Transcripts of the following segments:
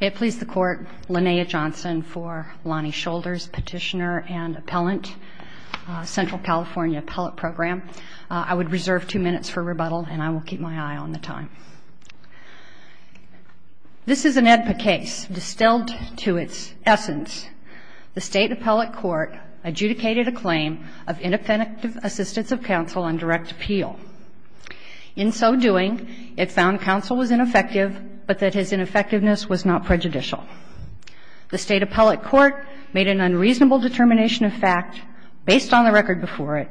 It pleased the Court, Linnea Johnson for Lonnie Shoulders Petitioner and Appellant, Central California Appellate Program. I would reserve two minutes for rebuttal, and I will keep my eye on the time. This is an AEDPA case. Distilled to its essence, the State Appellate Court adjudicated a claim of ineffective assistance of counsel on direct appeal. In so doing, it found counsel was ineffectiveness was not prejudicial. The State Appellate Court made an unreasonable determination of fact, based on the record before it,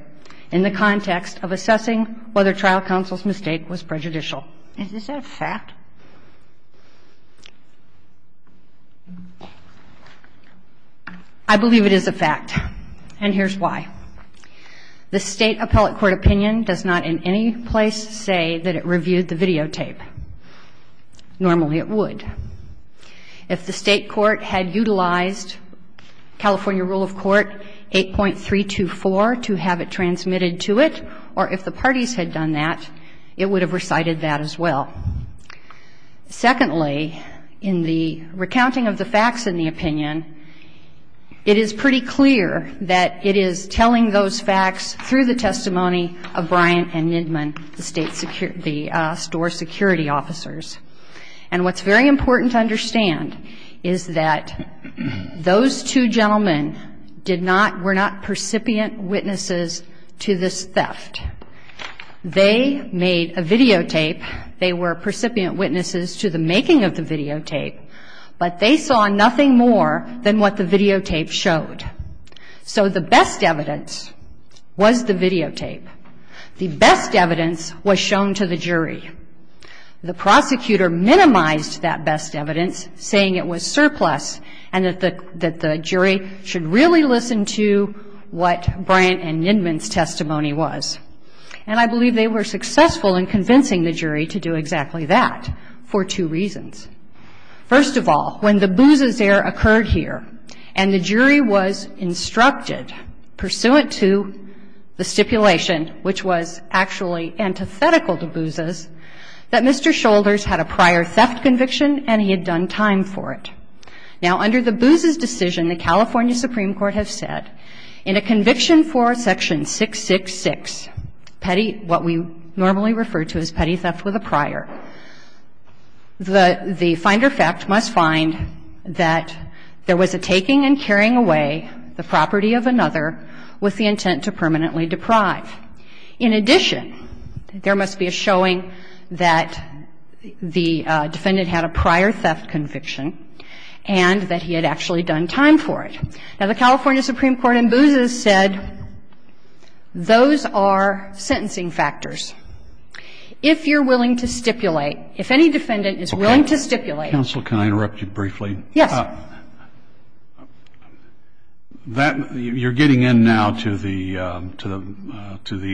in the context of assessing whether trial counsel's mistake was prejudicial. Is this a fact? I believe it is a fact, and here's why. The State Appellate Court opinion does not in the State Appellate Court opinion does not take the facts of the testimony of Brian The State Appellate Court opinion was not prejudicial. If the State Appellate Court had utilized California rule of court 8.324 to have it transmitted to it, or if the parties had done that, it would have recited that as well. Secondly, in the recounting of the facts in the opinion, it is pretty clear that it is telling those facts through the testimony of Brian and Nidman, the State Security, the store security officers. And what's very important to understand is that those two gentlemen did not, were not percipient witnesses to this theft. They made a videotape. They were percipient witnesses to the making of the videotape, but they saw nothing more than what the videotape showed. So the best evidence was the videotape. The best evidence was shown to the jury. The prosecutor minimized that best evidence, saying it was surplus and that the jury should really listen to what Brian and Nidman had to say. Now, the State Appellate Court opinion was not prejudicial. It was not prejudiced. And I believe they were successful in convincing the jury to do exactly that for two reasons. First of all, when the Booz's error occurred here and the jury was instructed pursuant to the stipulation, which was actually antithetical to Booz's, that Mr. Petty, what we normally refer to as petty theft with a prior, the finder fact must find that there was a taking and carrying away the property of another with the intent to permanently deprive. In addition, there must be a showing that the defendant had a prior theft conviction and that he had actually done time for it. Now, the California Supreme Court in Booz's said those are sentencing factors. If you're willing to stipulate, if any defendant is willing to stipulate. Counsel, can I interrupt you briefly? Yes. You're getting in now to the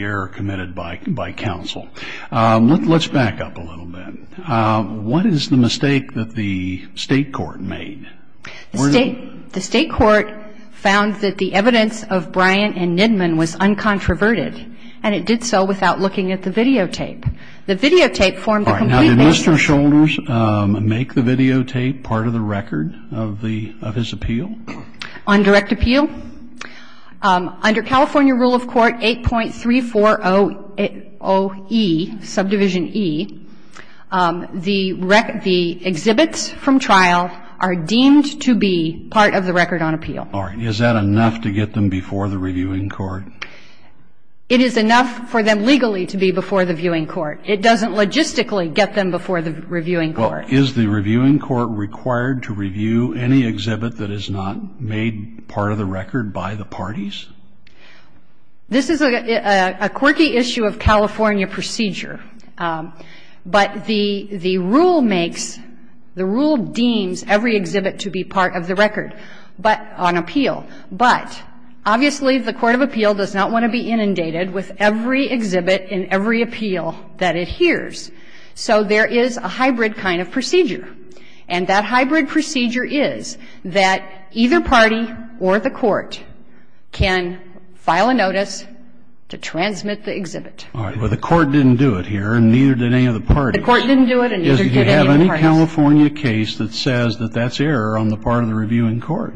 error committed by counsel. Let's back up a little bit. What is the mistake that the State Court made? The State Court found that the evidence of Bryant and Nidman was uncontroverted and it did so without looking at the videotape. The videotape formed the complete background. Now, did Mr. Shoulders make the videotape part of the record of his appeal? On direct appeal? Under California rule of court 8.340E, subdivision E, the exhibits from trial are deemed to be part of the record on appeal. Is that enough to get them before the reviewing court? It is enough for them legally to be before the viewing court. It doesn't logistically get them before the reviewing court. Is the reviewing court required to review any exhibit that is not made part of the record by the parties? This is a quirky issue of California procedure. But the rule makes, the rule deems every exhibit to be part of the record on appeal. But obviously the court of appeal does not want to be inundated with every exhibit and every appeal that it hears. So there is a hybrid kind of procedure. And that hybrid procedure is that either party or the court can file a notice to transmit the exhibit. All right. Well, the court didn't do it here and neither did any of the parties. The court didn't do it and neither did any of the parties. Do you have any California case that says that that's error on the part of the reviewing court?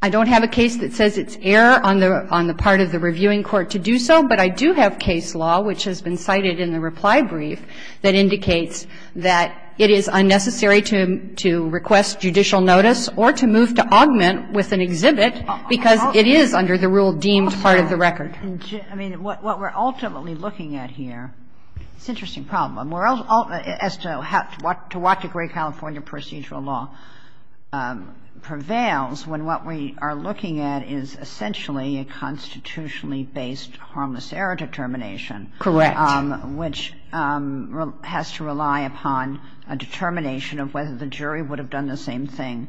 I don't have a case that says it's error on the part of the reviewing court to do so, but I do have case law, which has been cited in the reply brief, that indicates that it is unnecessary to request judicial notice or to move to augment with an exhibit because it is under the rule deemed part of the record. I mean, what we're ultimately looking at here, it's an interesting problem, as to what degree California procedural law prevails when what we are looking at is essentially a constitutionally based harmless error determination. Correct. Which has to rely upon a determination of whether the jury would have done the same thing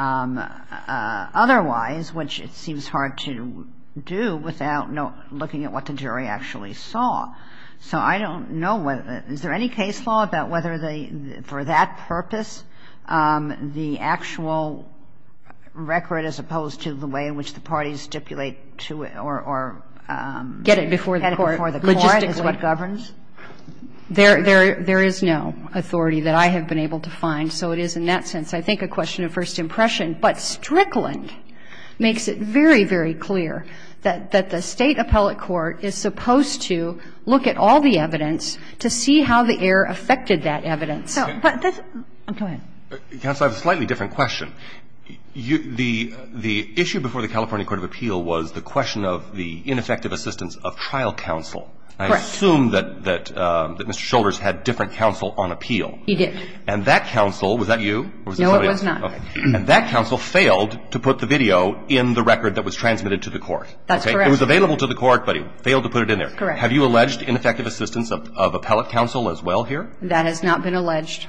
otherwise, which it seems hard to do without looking at what the jury actually saw. So I don't know whether – is there any case law about whether they, for that purpose, the actual record as opposed to the way in which the parties stipulate or get it before the court logistically governs? There is no authority that I have been able to find. So it is in that sense, I think, a question of first impression. But Strickland makes it very, very clear that the State appellate court is supposed to look at all the evidence to see how the error affected that evidence. Go ahead. Counsel, I have a slightly different question. The issue before the California Court of Appeal was the question of the ineffective assistance of trial counsel. Correct. I assume that Mr. Shoulders had different counsel on appeal. He did. And that counsel – was that you? No, it was not. And that counsel failed to put the video in the record that was transmitted to the court. That's correct. It was available to the court, but he failed to put it in there. Correct. Have you alleged ineffective assistance of appellate counsel as well here? That has not been alleged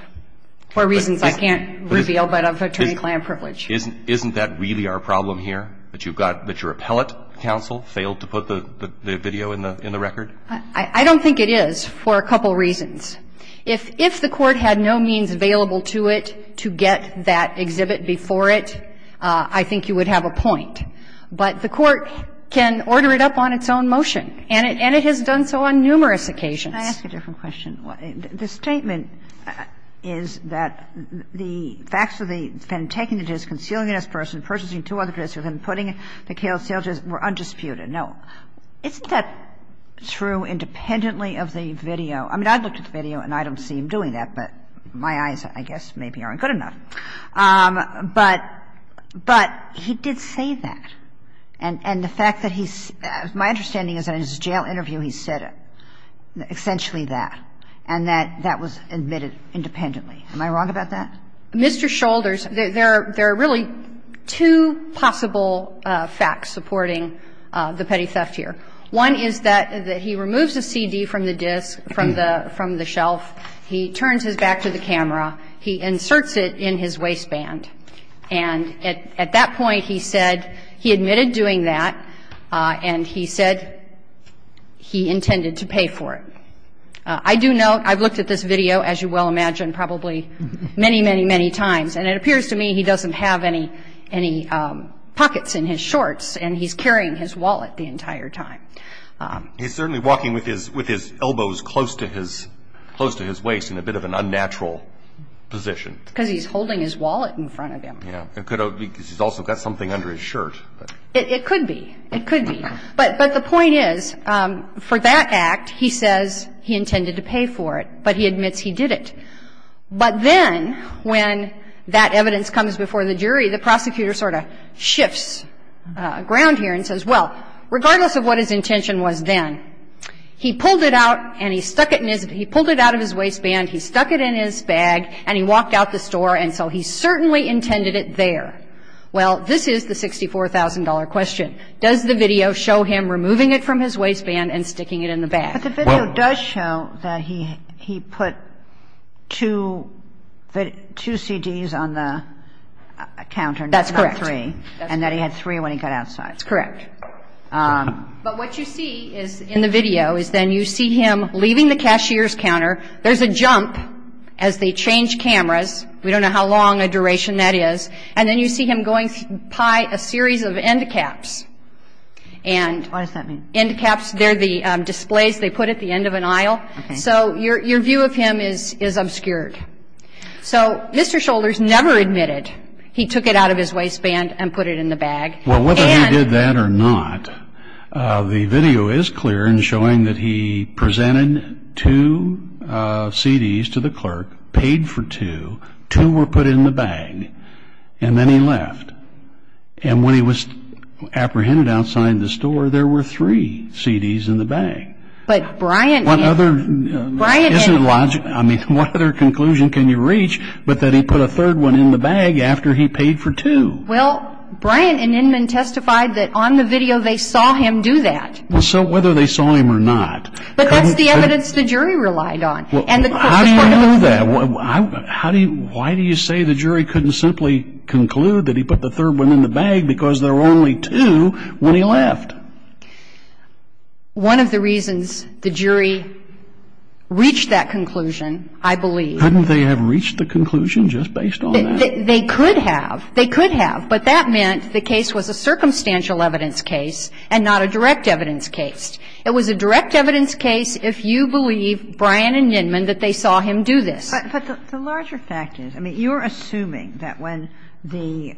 for reasons I can't reveal but of attorney-client privilege. Isn't that really our problem here, that you've got – that your appellate counsel failed to put the video in the record? I don't think it is for a couple reasons. If the court had no means available to it to get that exhibit before it, I think you would have a point. But the court can order it up on its own motion, and it has done so on numerous occasions. Can I ask a different question? The statement is that the facts of the defendant taking the disk, concealing it as a person, purchasing two other disks, and then putting it in the Kale sale were undisputed. Now, isn't that true independently of the video? I mean, I looked at the video, and I don't see him doing that, but my eyes, I guess, maybe aren't good enough. But he did say that. And the fact that he's – my understanding is that in his jail interview, he said essentially that, and that that was admitted independently. Am I wrong about that? Mr. Shoulders, there are really two possible facts supporting the petty theft here. One is that he removes the CD from the disk, from the shelf. He turns his back to the camera. He inserts it in his waistband. And at that point, he said he admitted doing that, and he said he intended to. I do note, I've looked at this video, as you well imagine, probably many, many, many times. And it appears to me he doesn't have any pockets in his shorts, and he's carrying his wallet the entire time. He's certainly walking with his elbows close to his waist in a bit of an unnatural position. Because he's holding his wallet in front of him. Yeah. It could be because he's also got something under his shirt. It could be. It could be. But the point is, for that act, he says he intended to pay for it, but he admits he didn't. But then when that evidence comes before the jury, the prosecutor sort of shifts ground here and says, well, regardless of what his intention was then, he pulled it out and he stuck it in his he pulled it out of his waistband, he stuck it in his bag, and he walked out the store, and so he certainly intended it there. Well, this is the $64,000 question. Does the video show him removing it from his waistband and sticking it in the bag? Well. But the video does show that he put two CDs on the counter. That's correct. Not three. And that he had three when he got outside. That's correct. But what you see in the video is then you see him leaving the cashier's counter. There's a jump as they change cameras. We don't know how long a duration that is. And then you see him going pie a series of end caps. What does that mean? End caps. They're the displays they put at the end of an aisle. So your view of him is obscured. So Mr. Shoulders never admitted he took it out of his waistband and put it in the bag. Well, whether he did that or not, the video is clear in showing that he presented two CDs to the clerk, paid for two, two were put in the bag. And then he left. And when he was apprehended outside the store, there were three CDs in the bag. But Brian. What other. Brian. Isn't it logical? I mean, what other conclusion can you reach but that he put a third one in the bag after he paid for two? Well, Brian and Inman testified that on the video they saw him do that. So whether they saw him or not. But that's the evidence the jury relied on. How do you know that? Why do you say the jury couldn't simply conclude that he put the third one in the bag because there were only two when he left? One of the reasons the jury reached that conclusion, I believe. Couldn't they have reached the conclusion just based on that? They could have. They could have. But that meant the case was a circumstantial evidence case and not a direct evidence case. It was a direct evidence case if you believe Brian and Inman that they saw him do this. But the larger fact is, I mean, you're assuming that when the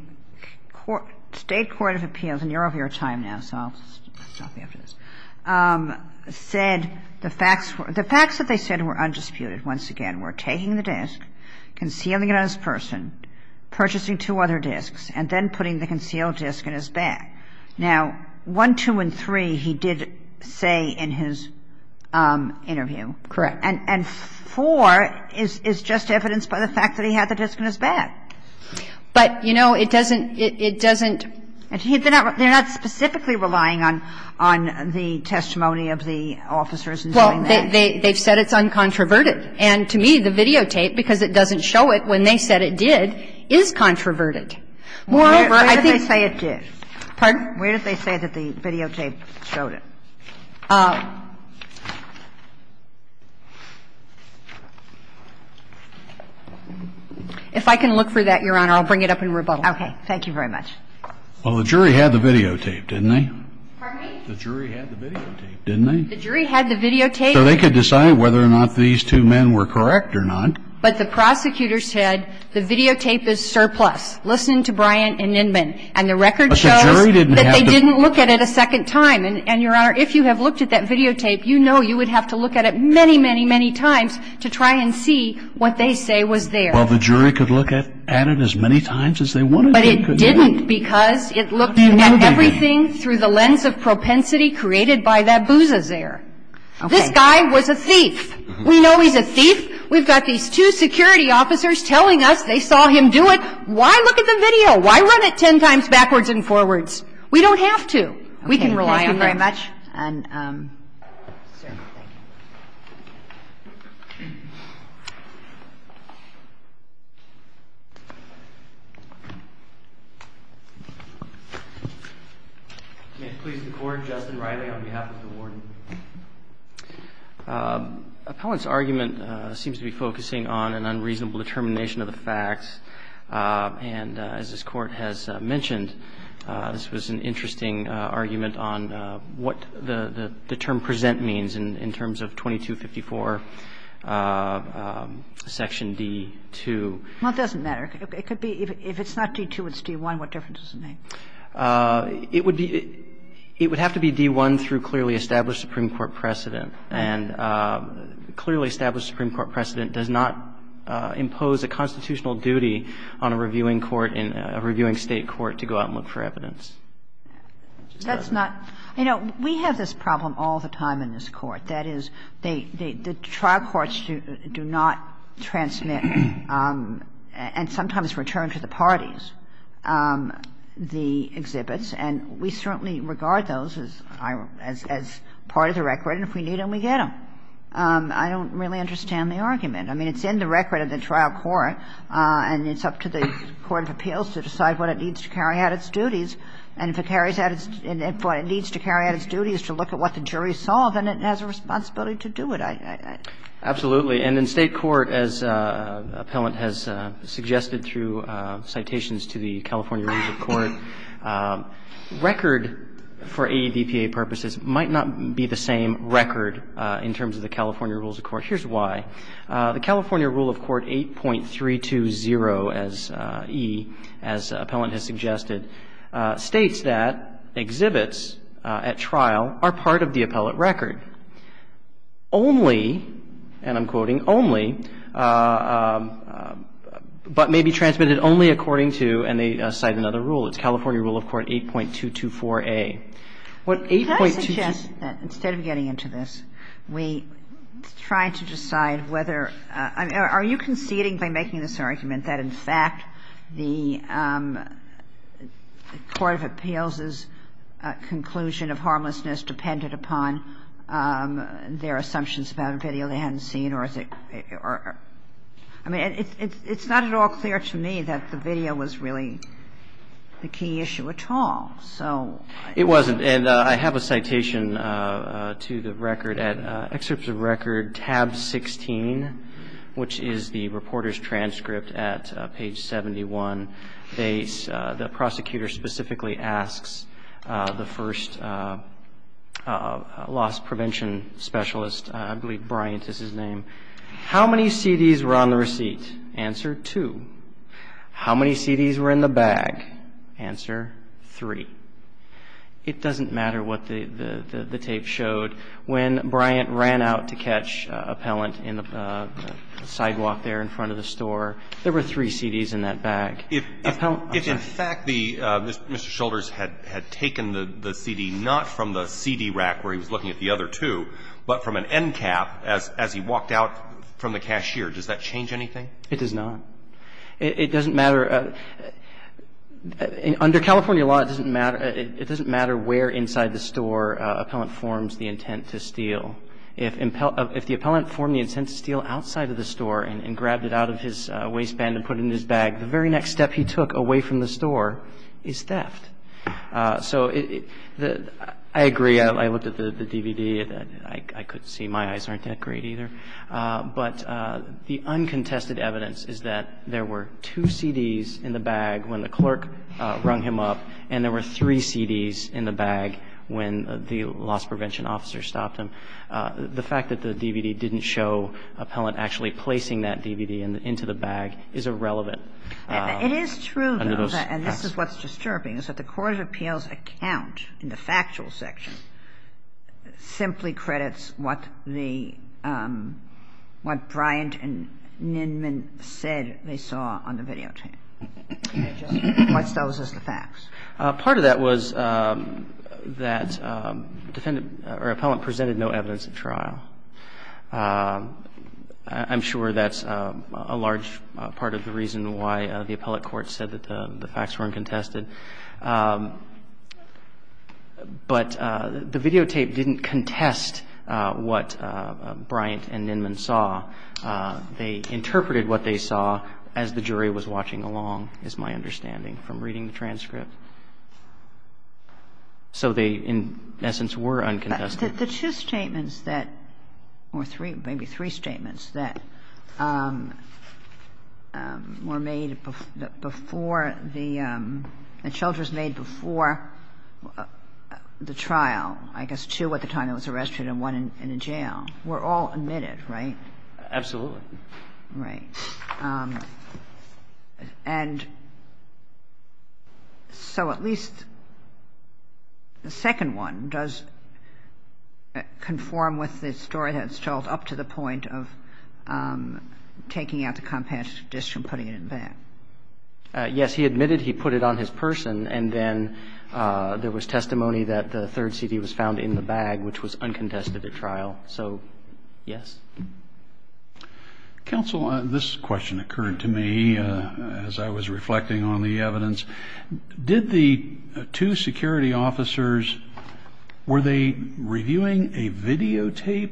state court of appeals and you're over your time now, so I'll stop you after this, said the facts that they said were undisputed, once again, were taking the disc, concealing it on his person, purchasing two other discs, and then putting the concealed disc in his bag. Now, one, two, and three he did say in his interview. Correct. And four is just evidence by the fact that he had the disc in his bag. But, you know, it doesn't, it doesn't. They're not specifically relying on the testimony of the officers in doing that. Well, they've said it's uncontroverted. And to me, the videotape, because it doesn't show it when they said it did, is controverted. Moreover, I think. Where did they say it did? Pardon? Where did they say that the videotape showed it? If I can look for that, Your Honor, I'll bring it up in rebuttal. Okay. Thank you very much. Well, the jury had the videotape, didn't they? Pardon me? The jury had the videotape, didn't they? The jury had the videotape. So they could decide whether or not these two men were correct or not. But the prosecutor said the videotape is surplus. Listen to Bryant and Nindman. And the record shows. That they didn't look at it a second time. And, Your Honor, I don't think that's true. Your Honor, if you have looked at that videotape, you know you would have to look at it many, many, many times to try and see what they say was there. Well, the jury could look at it as many times as they wanted. But it didn't because it looked at everything through the lens of propensity created by that bouzazaire. This guy was a thief. We know he's a thief. We've got these two security officers telling us they saw him do it. Why look at the video? Why run it ten times backwards and forwards? We don't have to. We can rely on it. We can rely on it very much. May it please the Court. Justin Riley on behalf of the Warden. Appellant's argument seems to be focusing on an unreasonable determination of the facts. And as this Court has mentioned, this was an interesting argument on what the term present means in terms of 2254 section D-2. Well, it doesn't matter. It could be if it's not D-2, it's D-1. What difference does it make? It would have to be D-1 through clearly established Supreme Court precedent. And clearly established Supreme Court precedent does not impose a constitutional duty on a reviewing court, a reviewing State court to go out and look for evidence. That's not – you know, we have this problem all the time in this Court. That is, the trial courts do not transmit and sometimes return to the parties the exhibits. And we certainly regard those as part of the record. And if we need them, we get them. I don't really understand the argument. I mean, it's in the record of the trial court, and it's up to the court of appeals to decide what it needs to carry out its duties. And if it carries out its – if what it needs to carry out its duty is to look at what the jury saw, then it has a responsibility to do it. Absolutely. And in State court, as Appellant has suggested through citations to the California Rules of Court, record for ADPA purposes might not be the same record in terms of the California Rules of Court. Here's why. The California Rule of Court 8.320E, as Appellant has suggested, states that exhibits at trial are part of the appellate record only – and I'm quoting – only, but may be transmitted only according to – and they cite another rule. It's California Rule of Court 8.224A. What 8.224A – Are you conceding by making this argument that, in fact, the court of appeals' conclusion of harmlessness depended upon their assumptions about a video they hadn't seen, or is it – I mean, it's not at all clear to me that the video was really the key issue at all. It wasn't. And I have a citation to the record at – excerpts of record tab 16, which is the reporter's transcript at page 71. The prosecutor specifically asks the first loss prevention specialist – I believe Bryant is his name – how many CDs were on the receipt? Answer, two. How many CDs were in the bag? Answer, three. It doesn't matter what the tape showed. When Bryant ran out to catch appellant in the sidewalk there in front of the store, there were three CDs in that bag. If in fact the – Mr. Shoulders had taken the CD not from the CD rack where he was looking at the other two, but from an end cap as he walked out from the cashier, does that change anything? It does not. It doesn't matter – under California law, it doesn't matter – it doesn't matter where inside the store appellant forms the intent to steal. If the appellant formed the intent to steal outside of the store and grabbed it out of his waistband and put it in his bag, the very next step he took away from the store is theft. So I agree. I looked at the DVD. I could see my eyes aren't that great either. But the uncontested evidence is that there were two CDs in the bag when the clerk rung him up and there were three CDs in the bag when the loss prevention officer stopped him. The fact that the DVD didn't show appellant actually placing that DVD into the bag is irrelevant. It is true, though, and this is what's disturbing, is that the Court of Appeals account in the factual section simply credits what the – what Bryant and Nenman said they saw on the videotape. What's those as the facts? Part of that was that defendant or appellant presented no evidence at trial. I'm sure that's a large part of the reason why the appellate court said that the facts were uncontested. But the videotape didn't contest what Bryant and Nenman saw. They interpreted what they saw as the jury was watching along, is my understanding, from reading the transcript. So they, in essence, were uncontested. The two statements that – or three – maybe three statements that were made before the – that Childress made before the trial, I guess two at the time that he was arrested and one in a jail, were all admitted, right? Absolutely. Right. And so at least the second one does conform with the story that's told up to the point of taking out the compassionate addition and putting it in the bag. Yes. He admitted he put it on his person, and then there was testimony that the third CD was found in the bag, which was uncontested at trial. So, yes. Counsel, this question occurred to me as I was reflecting on the evidence. Did the two security officers – were they reviewing a videotape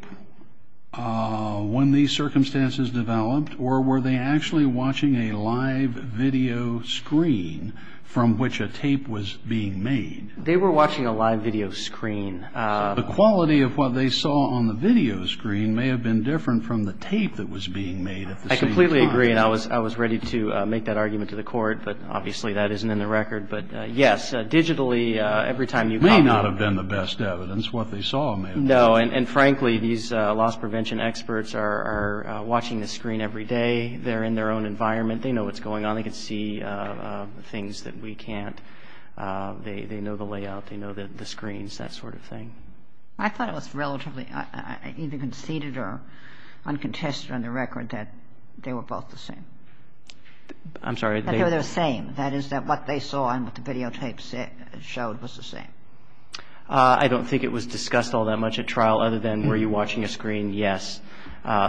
when these circumstances developed, or were they actually watching a live video screen from which a tape was being made? They were watching a live video screen. The quality of what they saw on the video screen may have been different from the tape that was being made at the same time. I completely agree, and I was ready to make that argument to the court, but obviously that isn't in the record. But, yes, digitally, every time you – It may not have been the best evidence. What they saw may have been different. No, and frankly, these loss prevention experts are watching the screen every day. They're in their own environment. They know what's going on. They can see things that we can't. They know the layout. They know the screens, that sort of thing. I thought it was relatively – either conceded or uncontested on the record that they were both the same. I'm sorry. That they were the same, that is that what they saw and what the videotapes showed was the same. I don't think it was discussed all that much at trial other than were you watching a screen? Yes.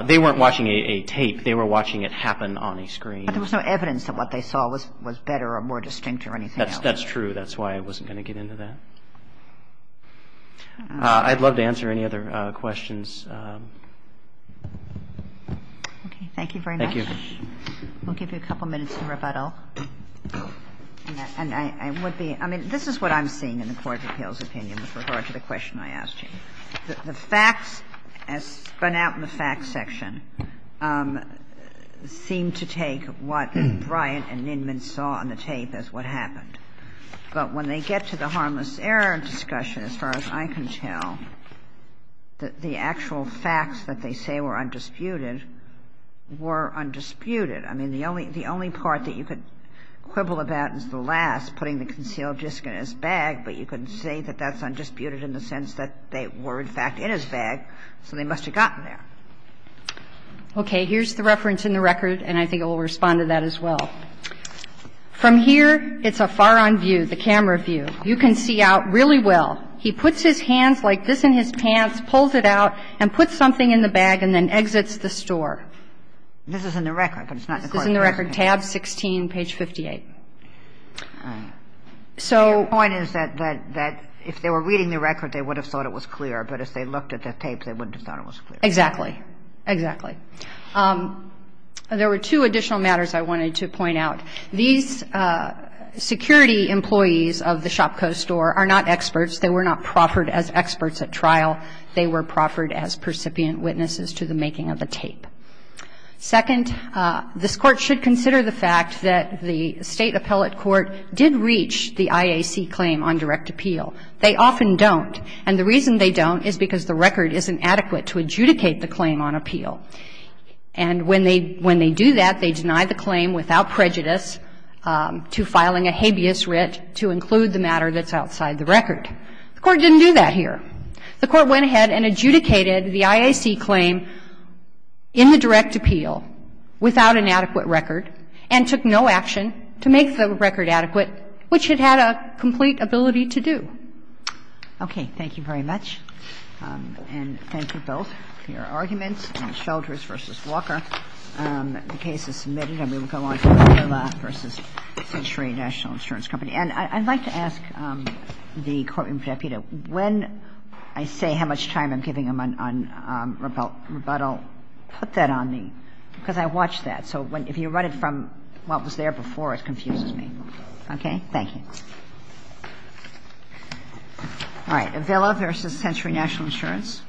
They weren't watching a tape. They were watching it happen on a screen. But there was no evidence that what they saw was better or more distinct or anything else. That's true. That's why I wasn't going to get into that. I'd love to answer any other questions. Okay. Thank you very much. We'll give you a couple minutes to rebuttal. And I would be – I mean, this is what I'm seeing in the Court of Appeals opinion with regard to the question I asked you. The facts, as spun out in the facts section, seem to take what Bryant and Nindman saw on the tape as what happened. But when they get to the harmless error discussion, as far as I can tell, the actual facts that they say were undisputed were undisputed. I mean, the only part that you could quibble about is the last, putting the concealed disc in his bag. But you can say that that's undisputed in the sense that they were, in fact, in his bag, so they must have gotten there. Okay. Here's the reference in the record, and I think it will respond to that as well. From here, it's a far-on view, the camera view. You can see out really well. He puts his hands like this in his pants, pulls it out, and puts something in the bag and then exits the store. This is in the record, but it's not in the Court of Appeals. This is in the record, tab 16, page 58. So... The point is that if they were reading the record, they would have thought it was clear, but if they looked at the tape, they wouldn't have thought it was clear. Exactly. Exactly. There were two additional matters I wanted to point out. These security employees of the ShopCo store are not experts. They were not proffered as experts at trial. They were proffered as percipient witnesses to the making of the tape. Second, this Court should consider the fact that the State Appellate Court did reach the IAC claim on direct appeal. They often don't. And the reason they don't is because the record isn't adequate to adjudicate the claim on appeal. And when they do that, they deny the claim without prejudice to filing a habeas writ to include the matter that's outside the record. The Court didn't do that here. The Court went ahead and adjudicated the IAC claim in the direct appeal without an adequate record and took no action to make the record adequate, which it had a complete ability to do. Okay. Thank you very much. And thank you both for your arguments. Shelters v. Walker. The case is submitted. I'm going to go on to Vela v. Century National Insurance Company. And I'd like to ask the Courtroom Deputy, when I say how much time I'm giving him on rebuttal, put that on the – because I watched that. So if you run it from what was there before, it confuses me. Okay? Thank you. All right. Vela v. Century National Insurance. Thank you.